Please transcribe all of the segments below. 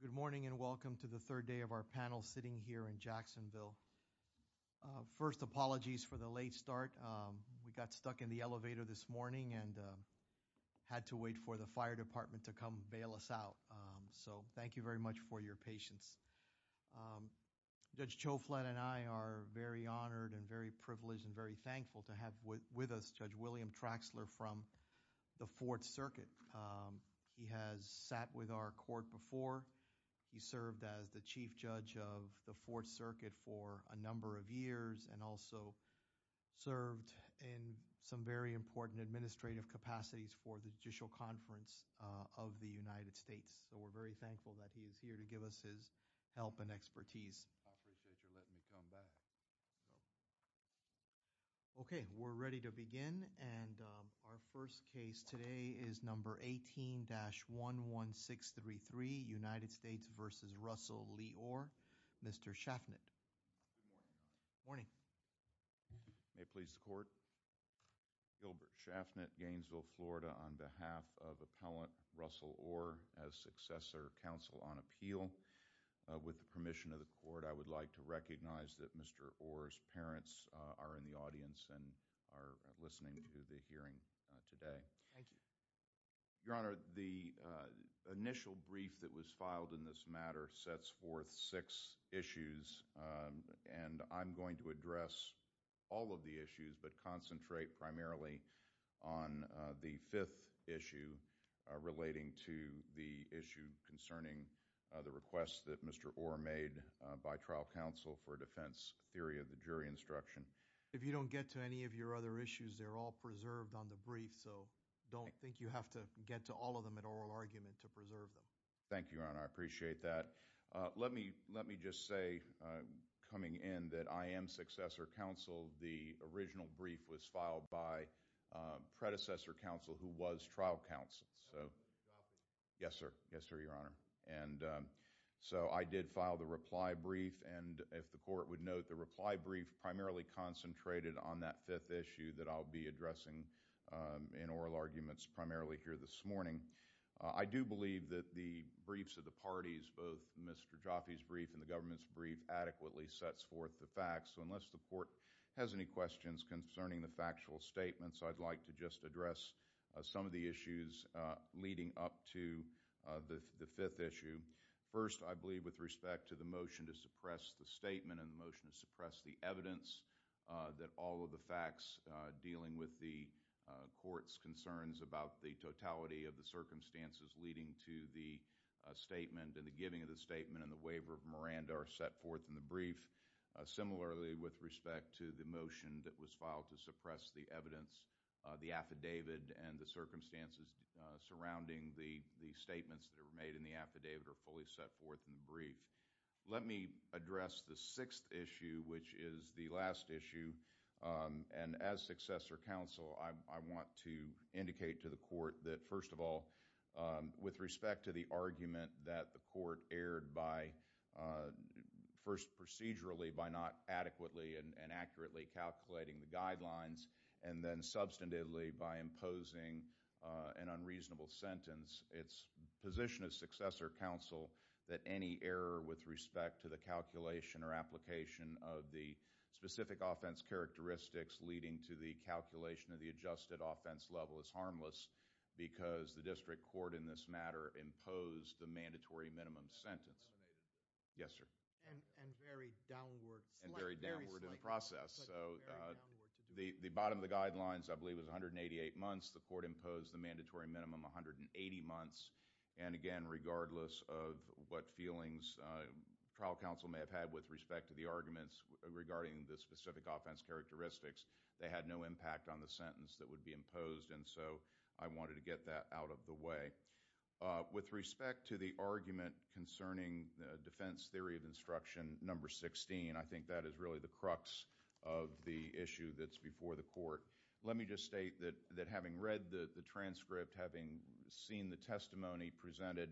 Good morning and welcome to the third day of our panel sitting here in Jacksonville. First apologies for the late start. We got stuck in the elevator this morning and had to wait for the fire department to come bail us out. So thank you very much for your patience. Judge Choflin and I are very honored and very privileged and very thankful to have with us Judge William Traxler from the 4th Circuit. He has sat with our court before. He served as the Chief Judge of the 4th Circuit for a number of years and also served in some very important administrative capacities for the Judicial Conference of the United States. So we're very thankful that he is here to give us his help and expertise. I appreciate your letting me come back. Okay we're ready to begin and our first case today is number 18-11633, United States v. Russel Lee Orr. Mr. Schaffnit. Good morning. May it please the court. Gilbert Schaffnit, Gainesville, Florida on behalf of Appellant Russell Orr as Successor Counsel on Appeal. With the permission of the court I would like to recognize that Mr. Orr's parents are in the audience and are listening to the hearing today. Thank you. Your Honor, the initial brief that was filed in this matter sets forth six issues and I'm going to address all of the issues but concentrate primarily on the fifth issue relating to the issue concerning the request that Mr. Orr made by trial counsel for defense theory of the jury instruction. If you don't get to any of your other issues they're all preserved on the brief so don't think you have to get to all of them in oral argument to preserve them. Thank you, Your Honor. I appreciate that. Let me just say coming in that I am Successor Counsel. The original brief was filed by predecessor counsel who was trial counsel. Yes, sir. Yes, sir, Your Honor. So I did file the reply brief and if the court would note the reply brief primarily concentrated on that fifth issue that I'll be addressing in oral arguments primarily here this morning. I do believe that the briefs of the parties, both Mr. Jaffe's brief and the government's brief adequately sets forth the facts so unless the court has any questions concerning the factual statements I'd like to just address some of the issues leading up to the fifth issue. First, I believe with respect to the motion to suppress the statement and the motion to suppress the evidence that all of the facts dealing with the court's concerns about the circumstances leading to the statement and the giving of the statement and the waiver of Miranda are set forth in the brief. Similarly, with respect to the motion that was filed to suppress the evidence, the affidavit and the circumstances surrounding the statements that were made in the affidavit are fully set forth in the brief. Let me address the sixth issue which is the last issue and as Successor Counsel I want to indicate to the court that first of all with respect to the argument that the court erred by first procedurally by not adequately and accurately calculating the guidelines and then substantively by imposing an unreasonable sentence, it's position of Successor Counsel that any error with respect to the calculation or application of the specific offense characteristics leading to the calculation of the adjusted offense level is harmless because the district court in this matter imposed the mandatory minimum sentence. Yes, sir. And very downward, very slight. And very downward in the process. So the bottom of the guidelines I believe was 188 months. The court imposed the mandatory minimum 180 months. And again, regardless of what feelings trial counsel may have had with respect to the arguments regarding the specific offense characteristics, they had no impact on the sentence that would be imposed. And so I wanted to get that out of the way. With respect to the argument concerning defense theory of instruction number 16, I think that is really the crux of the issue that's before the court. Let me just state that having read the transcript, having seen the testimony presented,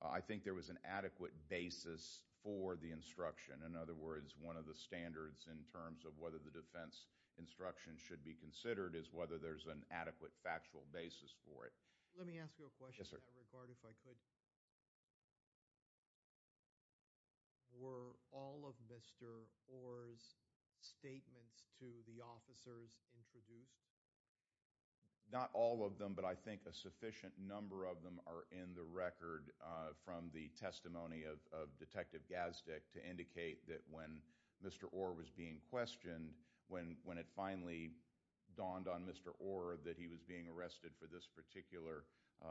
I think there was an adequate basis for the instruction. In other words, one of the standards in terms of whether the defense instruction should be considered is whether there's an adequate factual basis for it. Let me ask you a question in that regard if I could. Were all of Mr. Orr's statements to the officers introduced? Not all of them, but I think a sufficient number of them are in the record from the Mr. Orr was being questioned, when it finally dawned on Mr. Orr that he was being arrested for this particular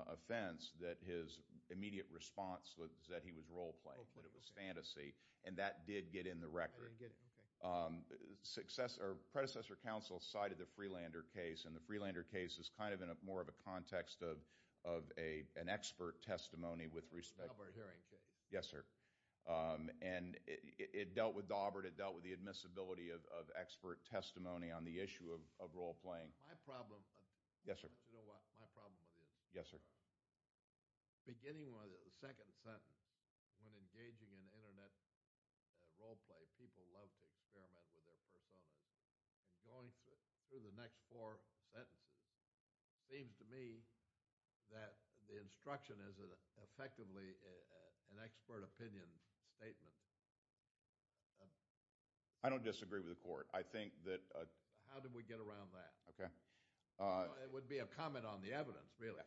offense, that his immediate response was that he was role playing, that it was fantasy. And that did get in the record. Predecessor counsel cited the Freelander case, and the Freelander case is kind of in more of a context of an expert testimony with respect to the case. Yes, sir. And it dealt with Daubert, it dealt with the admissibility of expert testimony on the issue of role playing. My problem... Yes, sir. You know what? My problem with this... Yes, sir. Beginning with the second sentence, when engaging in internet role play, people love to experiment with their personas. And going through the next four sentences, it seems to me that the instruction is effectively an expert opinion statement. I don't disagree with the court. I think that... How did we get around that? Okay. It would be a comment on the evidence, really.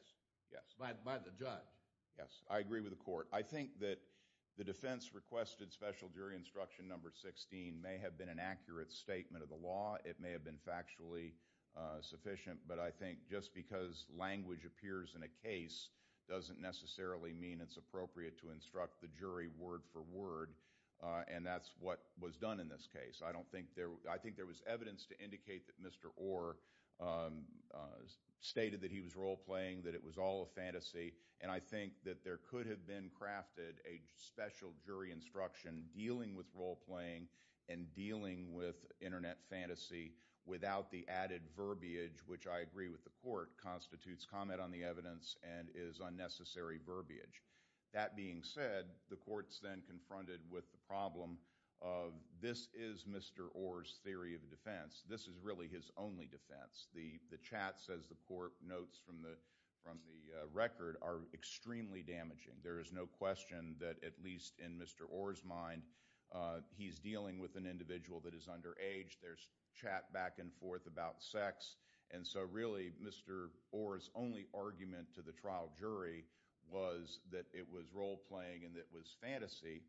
Yes. By the judge. Yes. I agree with the court. I think that the defense requested special jury instruction number 16 may have been an accurate statement of the law, it may have been factually sufficient, but I think just because language appears in a case doesn't necessarily mean it's appropriate to instruct the jury word for word, and that's what was done in this case. I don't think there... I think there was evidence to indicate that Mr. Orr stated that he was role playing, that it was all a fantasy, and I think that there could have been crafted a special jury instruction dealing with role playing and dealing with internet fantasy without the added verbiage, which I agree with the court, constitutes comment on the evidence and is unnecessary verbiage. That being said, the court's then confronted with the problem of this is Mr. Orr's theory of defense. This is really his only defense. The chats, as the court notes from the record, are extremely damaging. There is no question that, at least in Mr. Orr's mind, he's dealing with an individual that is underage. There's chat back and forth about sex, and so really, Mr. Orr's only argument to the trial jury was that it was role playing and that it was fantasy,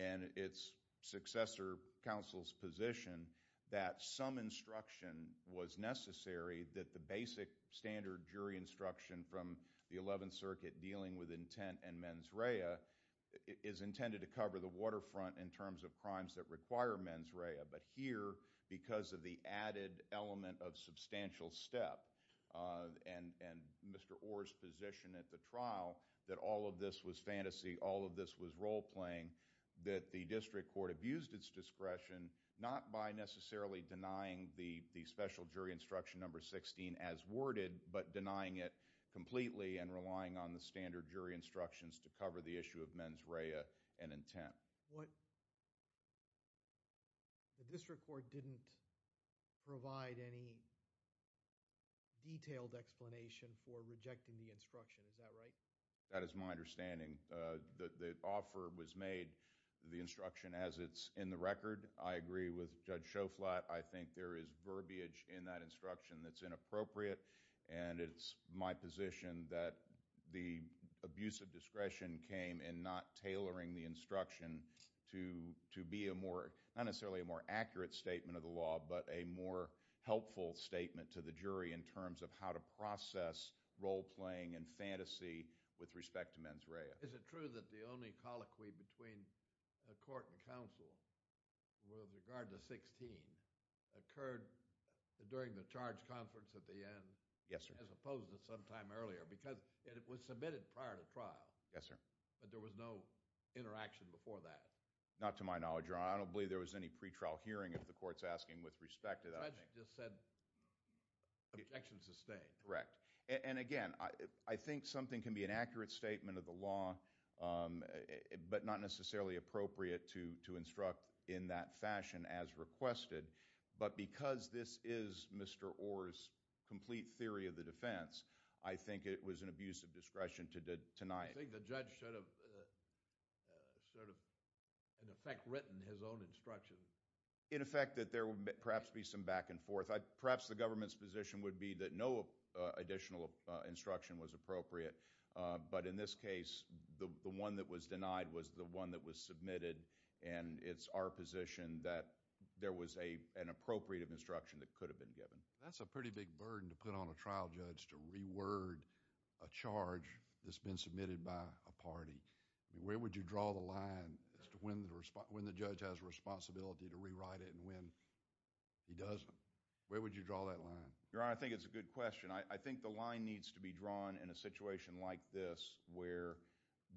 and it's successor counsel's position that some instruction was necessary, that the basic standard jury instruction from the 11th Circuit dealing with intent and mens rea is intended to cover the waterfront in terms of crimes that require mens rea, but here, because of the added element of substantial step and Mr. Orr's position at the trial, that all of this was fantasy, all of this was role playing, that the district court abused its discretion, not by necessarily denying the special jury instruction number 16 as worded, but denying it completely and relying on the standard jury instructions to cover the issue of mens rea and intent. What, the district court didn't provide any detailed explanation for rejecting the instruction, is that right? That is my understanding. The offer was made, the instruction as it's in the record, I agree with Judge Schoflat, I think there is verbiage in that instruction that's inappropriate, and it's my position that the abuse of discretion came in not tailoring the instruction to be a more, not necessarily a more accurate statement of the law, but a more helpful statement to the jury in terms of how to process role playing and fantasy with respect to mens rea. Is it true that the only colloquy between court and counsel with regard to 16 occurred during the charge conference at the end, as opposed to sometime earlier, because it was submitted prior to trial, but there was no interaction before that? Not to my knowledge, Your Honor, I don't believe there was any pre-trial hearing, if the court's asking with respect to that. The judge just said, objection sustained. Correct. And again, I think something can be an accurate statement of the law, but not necessarily appropriate to instruct in that fashion as requested. But because this is Mr. Orr's complete theory of the defense, I think it was an abuse of discretion to deny it. I think the judge should have sort of, in effect, written his own instruction. In effect, that there would perhaps be some back and forth. Perhaps the government's position would be that no additional instruction was appropriate, but in this case, the one that was denied was the one that was submitted, and it's our position that there was an appropriate of instruction that could have been given. That's a pretty big burden to put on a trial judge, to reword a charge that's been submitted by a party. Where would you draw the line as to when the judge has a responsibility to rewrite it and when he doesn't? Where would you draw that line? Your Honor, I think it's a good question. I think the line needs to be drawn in a situation like this, where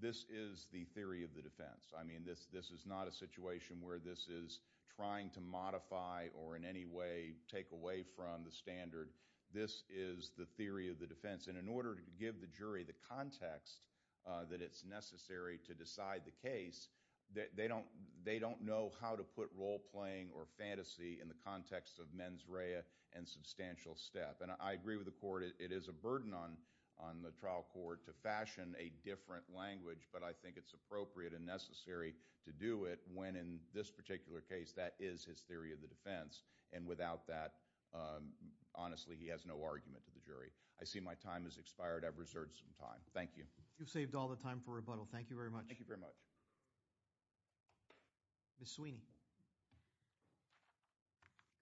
this is the theory of the defense. I mean, this is not a situation where this is trying to modify or in any way take away from the standard. This is the theory of the defense, and in order to give the jury the context that it's necessary to decide the case, they don't know how to put role-playing or fantasy in the context of mens rea and substantial step. And I agree with the Court, it is a burden on the trial court to fashion a different language, but I think it's appropriate and necessary to do it when in this particular case that is his theory of the defense, and without that, honestly, he has no argument to the jury. I see my time has expired. I've reserved some time. Thank you. You've saved all the time for rebuttal. Thank you very much. Thank you very much. Ms. Sweeney. Good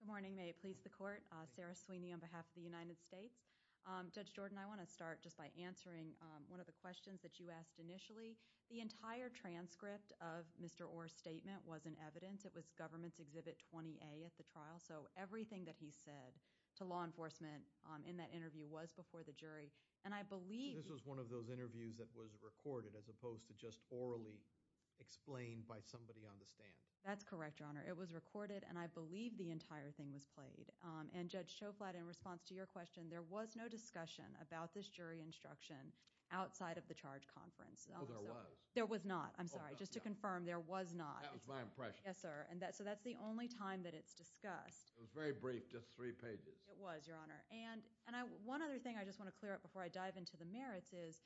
morning. Good morning. May it please the Court. Sarah Sweeney on behalf of the United States. Judge Jordan, I want to start just by answering one of the questions that you asked initially. The entire transcript of Mr. Orr's statement was in evidence. It was Government's Exhibit 20A at the trial, so everything that he said to law enforcement in that interview was before the jury. And I believe— So this was one of those interviews that was recorded as opposed to just orally explained by somebody on the stand? That's correct, Your Honor. It was recorded, and I believe the entire thing was played. And Judge Schoflat, in response to your question, there was no discussion about this jury instruction outside of the charge conference. Oh, there was? There was not. I'm sorry. Just to confirm, there was not. That was my impression. Yes, sir. So that's the only time that it's discussed. It was very brief, just three pages. It was, Your Honor. One other thing I just want to clear up before I dive into the merits is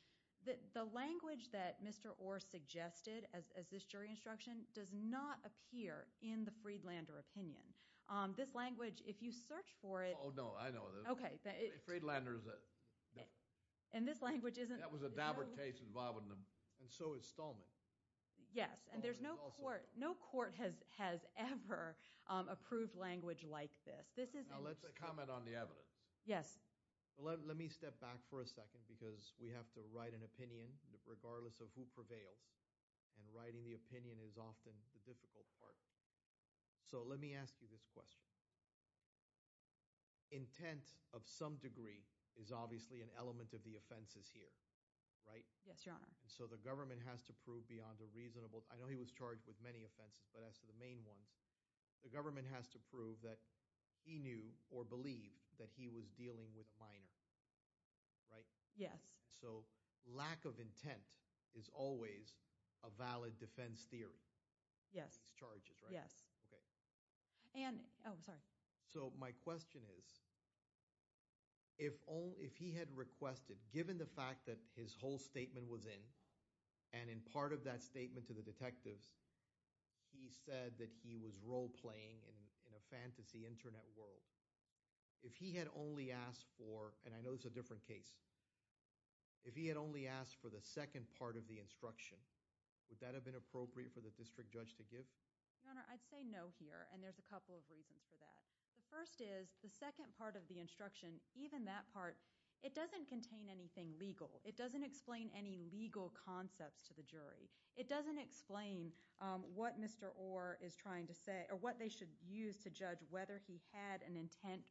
that the language that Mr. Orr suggested as this jury instruction does not appear in the Friedlander opinion. This language, if you search for it— Oh, no. I know. Okay. Friedlander is a— And this language isn't— That was a Dabbert case involved in the— And so is Stallman. Yes. And there's no court— Stallman is also— No court has ever approved language like this. This is— Now, let's comment on the evidence. Yes. Let me step back for a second because we have to write an opinion regardless of who prevails, and writing the opinion is often the difficult part. So let me ask you this question. Intent of some degree is obviously an element of the offenses here, right? Yes, Your Honor. And so the government has to prove beyond a reasonable—I know he was charged with many offenses, but as to the main ones, the government has to prove that he knew or believed that he was dealing with a minor, right? Yes. And so lack of intent is always a valid defense theory. Yes. These charges, right? Yes. Okay. And— Oh, sorry. So my question is, if he had requested—given the fact that his whole statement was in, and in part of that statement to the detectives, he said that he was role-playing in a fantasy internet world, if he had only asked for—and I know this is a different case—if he had only asked for the second part of the instruction, would that have been appropriate for the district judge to give? Your Honor, I'd say no here, and there's a couple of reasons for that. The first is, the second part of the instruction, even that part, it doesn't contain anything legal. It doesn't explain any legal concepts to the jury. It doesn't explain what Mr. Orr is trying to say, or what they should use to judge whether he had an intent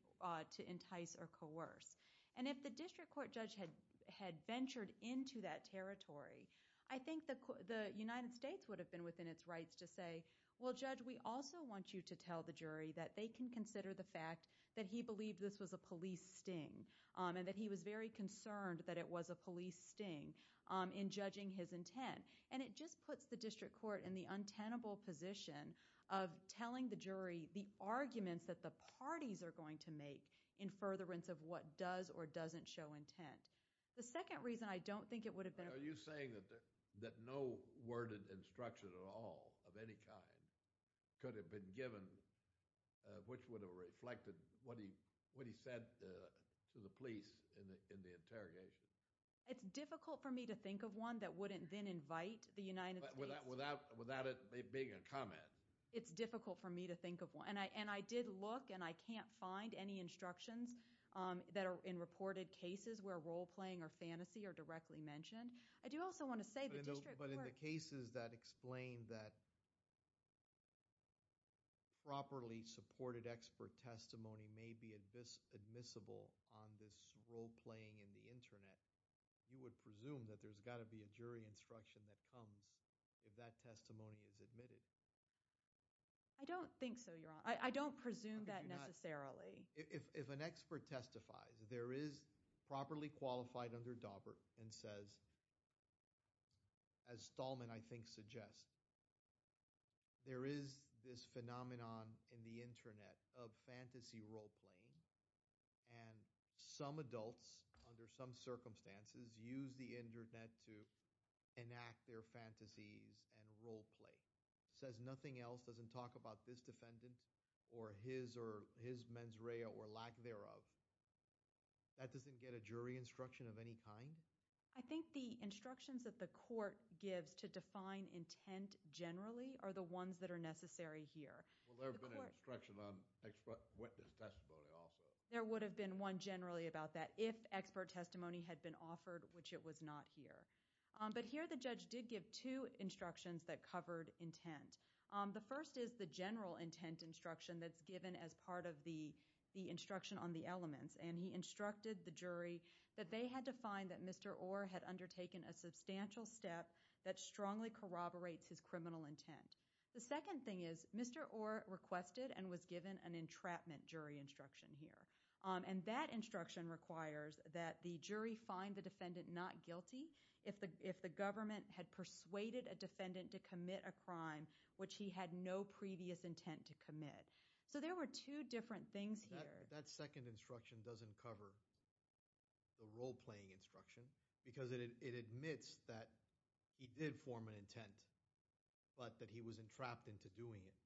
to entice or coerce. And if the district court judge had ventured into that territory, I think the United States would have been within its rights to say, well, Judge, we also want you to tell the jury that they can consider the fact that he believed this was a police sting, and that he was very concerned that it was a police sting in judging his intent. And it just puts the district court in the untenable position of telling the jury the parties are going to make in furtherance of what does or doesn't show intent. The second reason, I don't think it would have been— Are you saying that no worded instruction at all, of any kind, could have been given, which would have reflected what he said to the police in the interrogation? It's difficult for me to think of one that wouldn't then invite the United States— Without it being a comment. It's difficult for me to think of one. And I did look, and I can't find any instructions that are in reported cases where roleplaying or fantasy are directly mentioned. I do also want to say the district court— But in the cases that explain that properly supported expert testimony may be admissible on this roleplaying in the internet, you would presume that there's got to be a jury instruction that comes if that testimony is admitted. I don't think so, Your Honor. I don't presume that necessarily. If an expert testifies, there is properly qualified under Daubert and says, as Stallman, I think, suggests, there is this phenomenon in the internet of fantasy roleplaying, and some adults, under some circumstances, use the internet to enact their fantasies and roleplay. If a judge says nothing else, doesn't talk about this defendant or his or his mens rea or lack thereof, that doesn't get a jury instruction of any kind? I think the instructions that the court gives to define intent generally are the ones that are necessary here. Well, there would have been an instruction on expert witness testimony also. There would have been one generally about that if expert testimony had been offered, which it was not here. But here, the judge did give two instructions that covered intent. The first is the general intent instruction that's given as part of the instruction on the elements. And he instructed the jury that they had to find that Mr. Orr had undertaken a substantial step that strongly corroborates his criminal intent. The second thing is Mr. Orr requested and was given an entrapment jury instruction here. And that instruction requires that the jury find the defendant not guilty if the government had persuaded a defendant to commit a crime which he had no previous intent to commit. So there were two different things here. That second instruction doesn't cover the roleplaying instruction because it admits that he did form an intent, but that he was entrapped into doing it.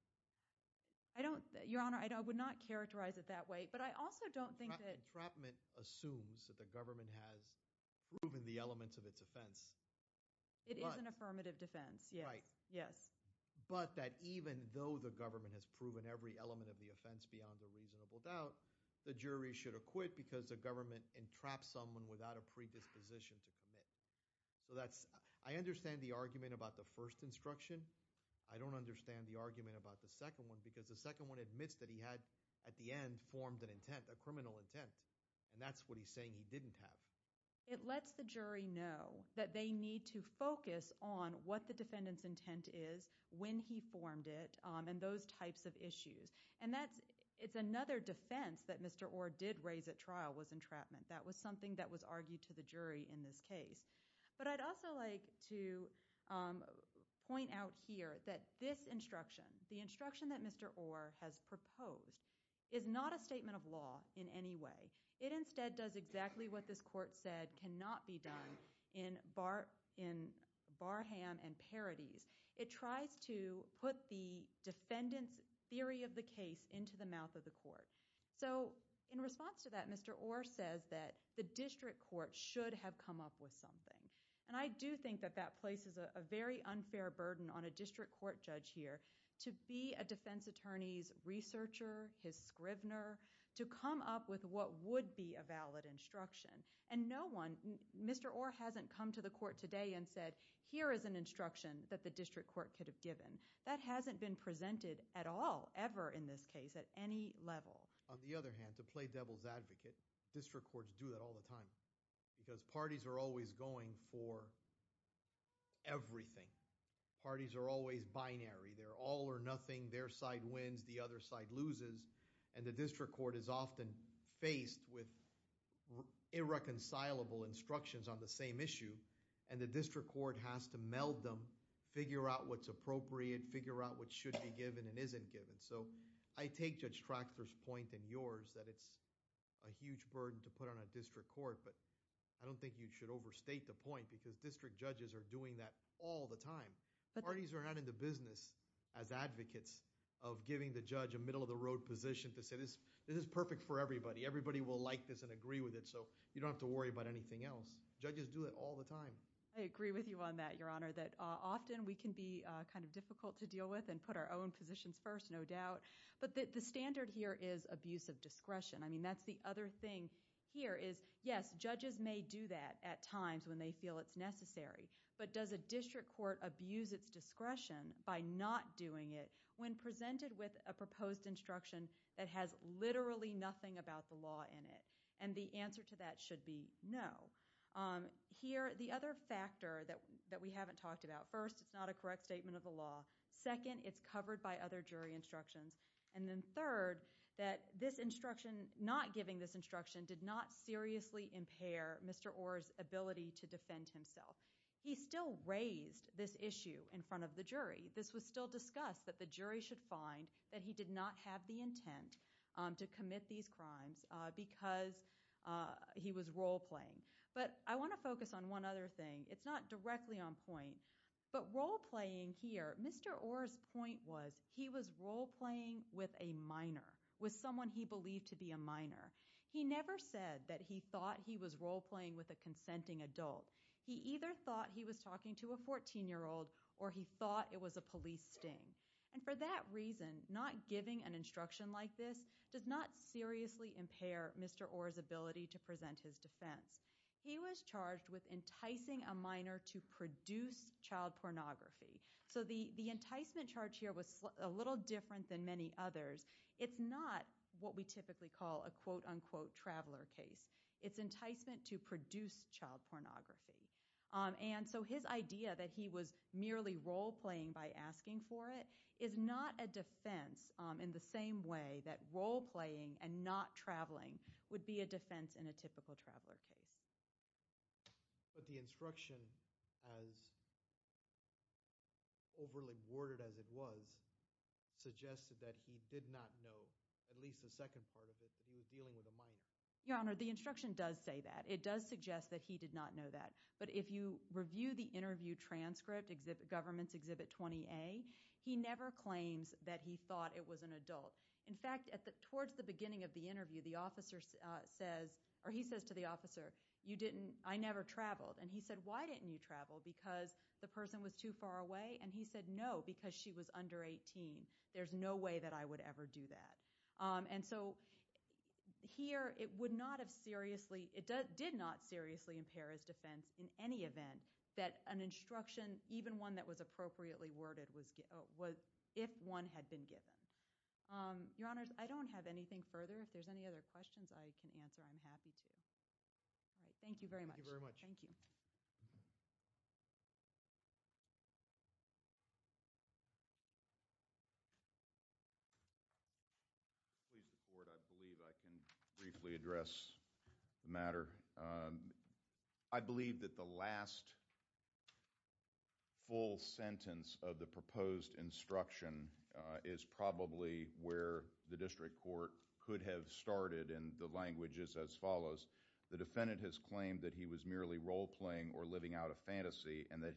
Your Honor, I would not characterize it that way. But I also don't think that – Entrapment assumes that the government has proven the elements of its offense. It is an affirmative defense. Right. Yes. But that even though the government has proven every element of the offense beyond a reasonable doubt, the jury should acquit because the government entrapped someone without a predisposition to commit. So that's – I understand the argument about the first instruction. I don't understand the argument about the second one because the second one admits that he had at the end formed an intent, a criminal intent. And that's what he's saying he didn't have. It lets the jury know that they need to focus on what the defendant's intent is when he formed it and those types of issues. And that's – it's another defense that Mr. Orr did raise at trial was entrapment. That was something that was argued to the jury in this case. But I'd also like to point out here that this instruction, the instruction that Mr. Orr has proposed is not a statement of law in any way. It instead does exactly what this court said cannot be done in barham and parodies. It tries to put the defendant's theory of the case into the mouth of the court. So in response to that, Mr. Orr says that the district court should have come up with something. And I do think that that places a very unfair burden on a district court judge here to be a defense attorney's researcher, his scrivener, to come up with what would be a valid instruction. And no one – Mr. Orr hasn't come to the court today and said here is an instruction that the district court could have given. That hasn't been presented at all ever in this case at any level. On the other hand, to play devil's advocate, district courts do that all the time because parties are always going for everything. Parties are always binary. They're all or nothing. Their side wins. The other side loses. And the district court is often faced with irreconcilable instructions on the same issue. And the district court has to meld them, figure out what's appropriate, figure out what should be given and isn't given. So I take Judge Traxler's point and yours that it's a huge burden to put on a district court. But I don't think you should overstate the point because district judges are doing that all the time. Parties are not in the business as advocates of giving the judge a middle-of-the-road position to say this is perfect for everybody. Everybody will like this and agree with it. So you don't have to worry about anything else. Judges do it all the time. I agree with you on that, Your Honor, that often we can be kind of difficult to deal with and put our own positions first, no doubt. But the standard here is abuse of discretion. I mean, that's the other thing here is, yes, judges may do that at times when they feel it's necessary. But does a district court abuse its discretion by not doing it when presented with a proposed instruction that has literally nothing about the law in it? And the answer to that should be no. Here, the other factor that we haven't talked about, first, it's not a correct statement of the law. Second, it's covered by other jury instructions. And then third, that this instruction, not giving this instruction, did not seriously impair Mr. Orr's ability to defend himself. He still raised this issue in front of the jury. This was still discussed that the jury should find that he did not have the intent to commit these crimes because he was role-playing. But I want to focus on one other thing. It's not directly on point. But role-playing here, Mr. Orr's point was he was role-playing with a minor, with someone he believed to be a minor. He never said that he thought he was role-playing with a consenting adult. He either thought he was talking to a 14-year-old or he thought it was a police sting. And for that reason, not giving an instruction like this does not seriously impair Mr. Orr's ability to present his defense. He was charged with enticing a minor to produce child pornography. So the enticement charge here was a little different than many others. It's not what we typically call a quote-unquote traveler case. It's enticement to produce child pornography. And so his idea that he was merely role-playing by asking for it is not a defense in the same way that role-playing and not traveling would be a defense in a typical traveler case. But the instruction, as overly worded as it was, suggested that he did not know, at least the second part of it, that he was dealing with a minor. Your Honor, the instruction does say that. It does suggest that he did not know that. But if you review the interview transcript, Government's Exhibit 20A, he never claims that he thought it was an adult. In fact, towards the beginning of the interview, the officer says, or he says to the officer, I never traveled. And he said, Why didn't you travel? Because the person was too far away? And he said, No, because she was under 18. There's no way that I would ever do that. And so here it did not seriously impair his defense in any event that an instruction, even one that was appropriately worded, if one had been given. Your Honors, I don't have anything further. If there's any other questions I can answer, I'm happy to. All right. Thank you very much. Thank you very much. Thank you. Please, the court. I believe I can briefly address the matter. I believe that the last full sentence of the proposed instruction is probably where the district court could have started. And the language is as follows. The defendant has claimed that he was merely role-playing or living out a fantasy and that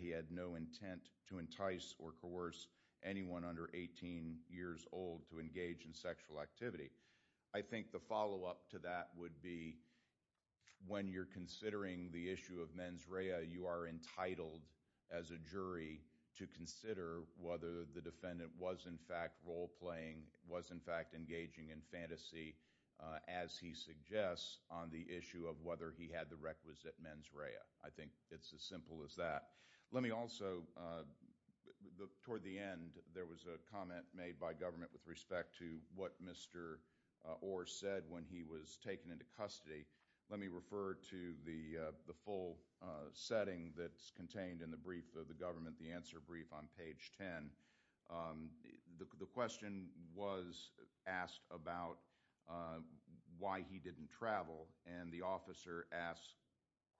he had no intent to entice or coerce anyone under 18 years old to engage in sexual activity. I think the follow-up to that would be when you're considering the issue of mens rea, you are entitled as a jury to consider whether the defendant was in fact role-playing, was in fact engaging in fantasy, as he suggests, on the issue of whether he had the requisite mens rea. I think it's as simple as that. Let me also, toward the end, there was a comment made by government with respect to what Mr. Orr said when he was taken into custody. Let me refer to the full setting that's contained in the brief of the government, the answer brief on page 10. The question was asked about why he didn't travel. And the officer asked,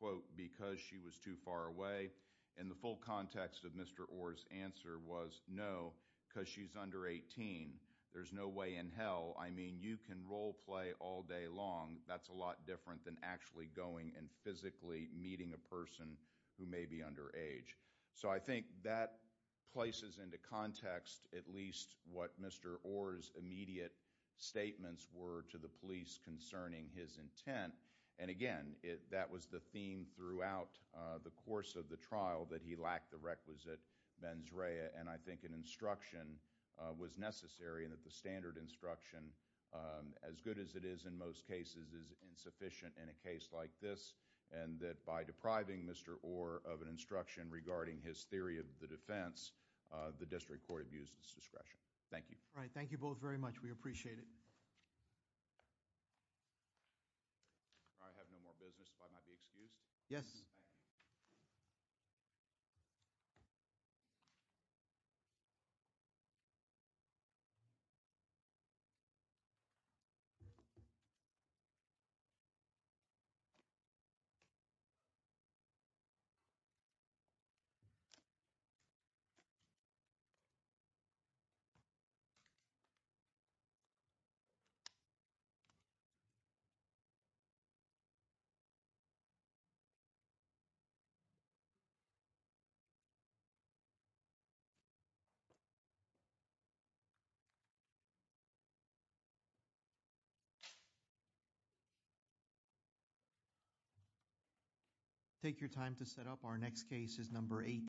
quote, because she was too far away. And the full context of Mr. Orr's answer was no, because she's under 18. There's no way in hell. I mean, you can role-play all day long. That's a lot different than actually going and physically meeting a person who may be underage. So I think that places into context at least what Mr. Orr's immediate statements were to the police concerning his intent. And, again, that was the theme throughout the course of the trial, that he lacked the requisite mens rea. And I think an instruction was necessary and that the standard instruction, as good as it is in most cases, is insufficient in a case like this. And that by depriving Mr. Orr of an instruction regarding his theory of the defense, the district court abused its discretion. Thank you. All right, thank you both very much. We appreciate it. I have no more business, if I might be excused. Yes. Thank you. Take your time to set up. Our next case is number 8.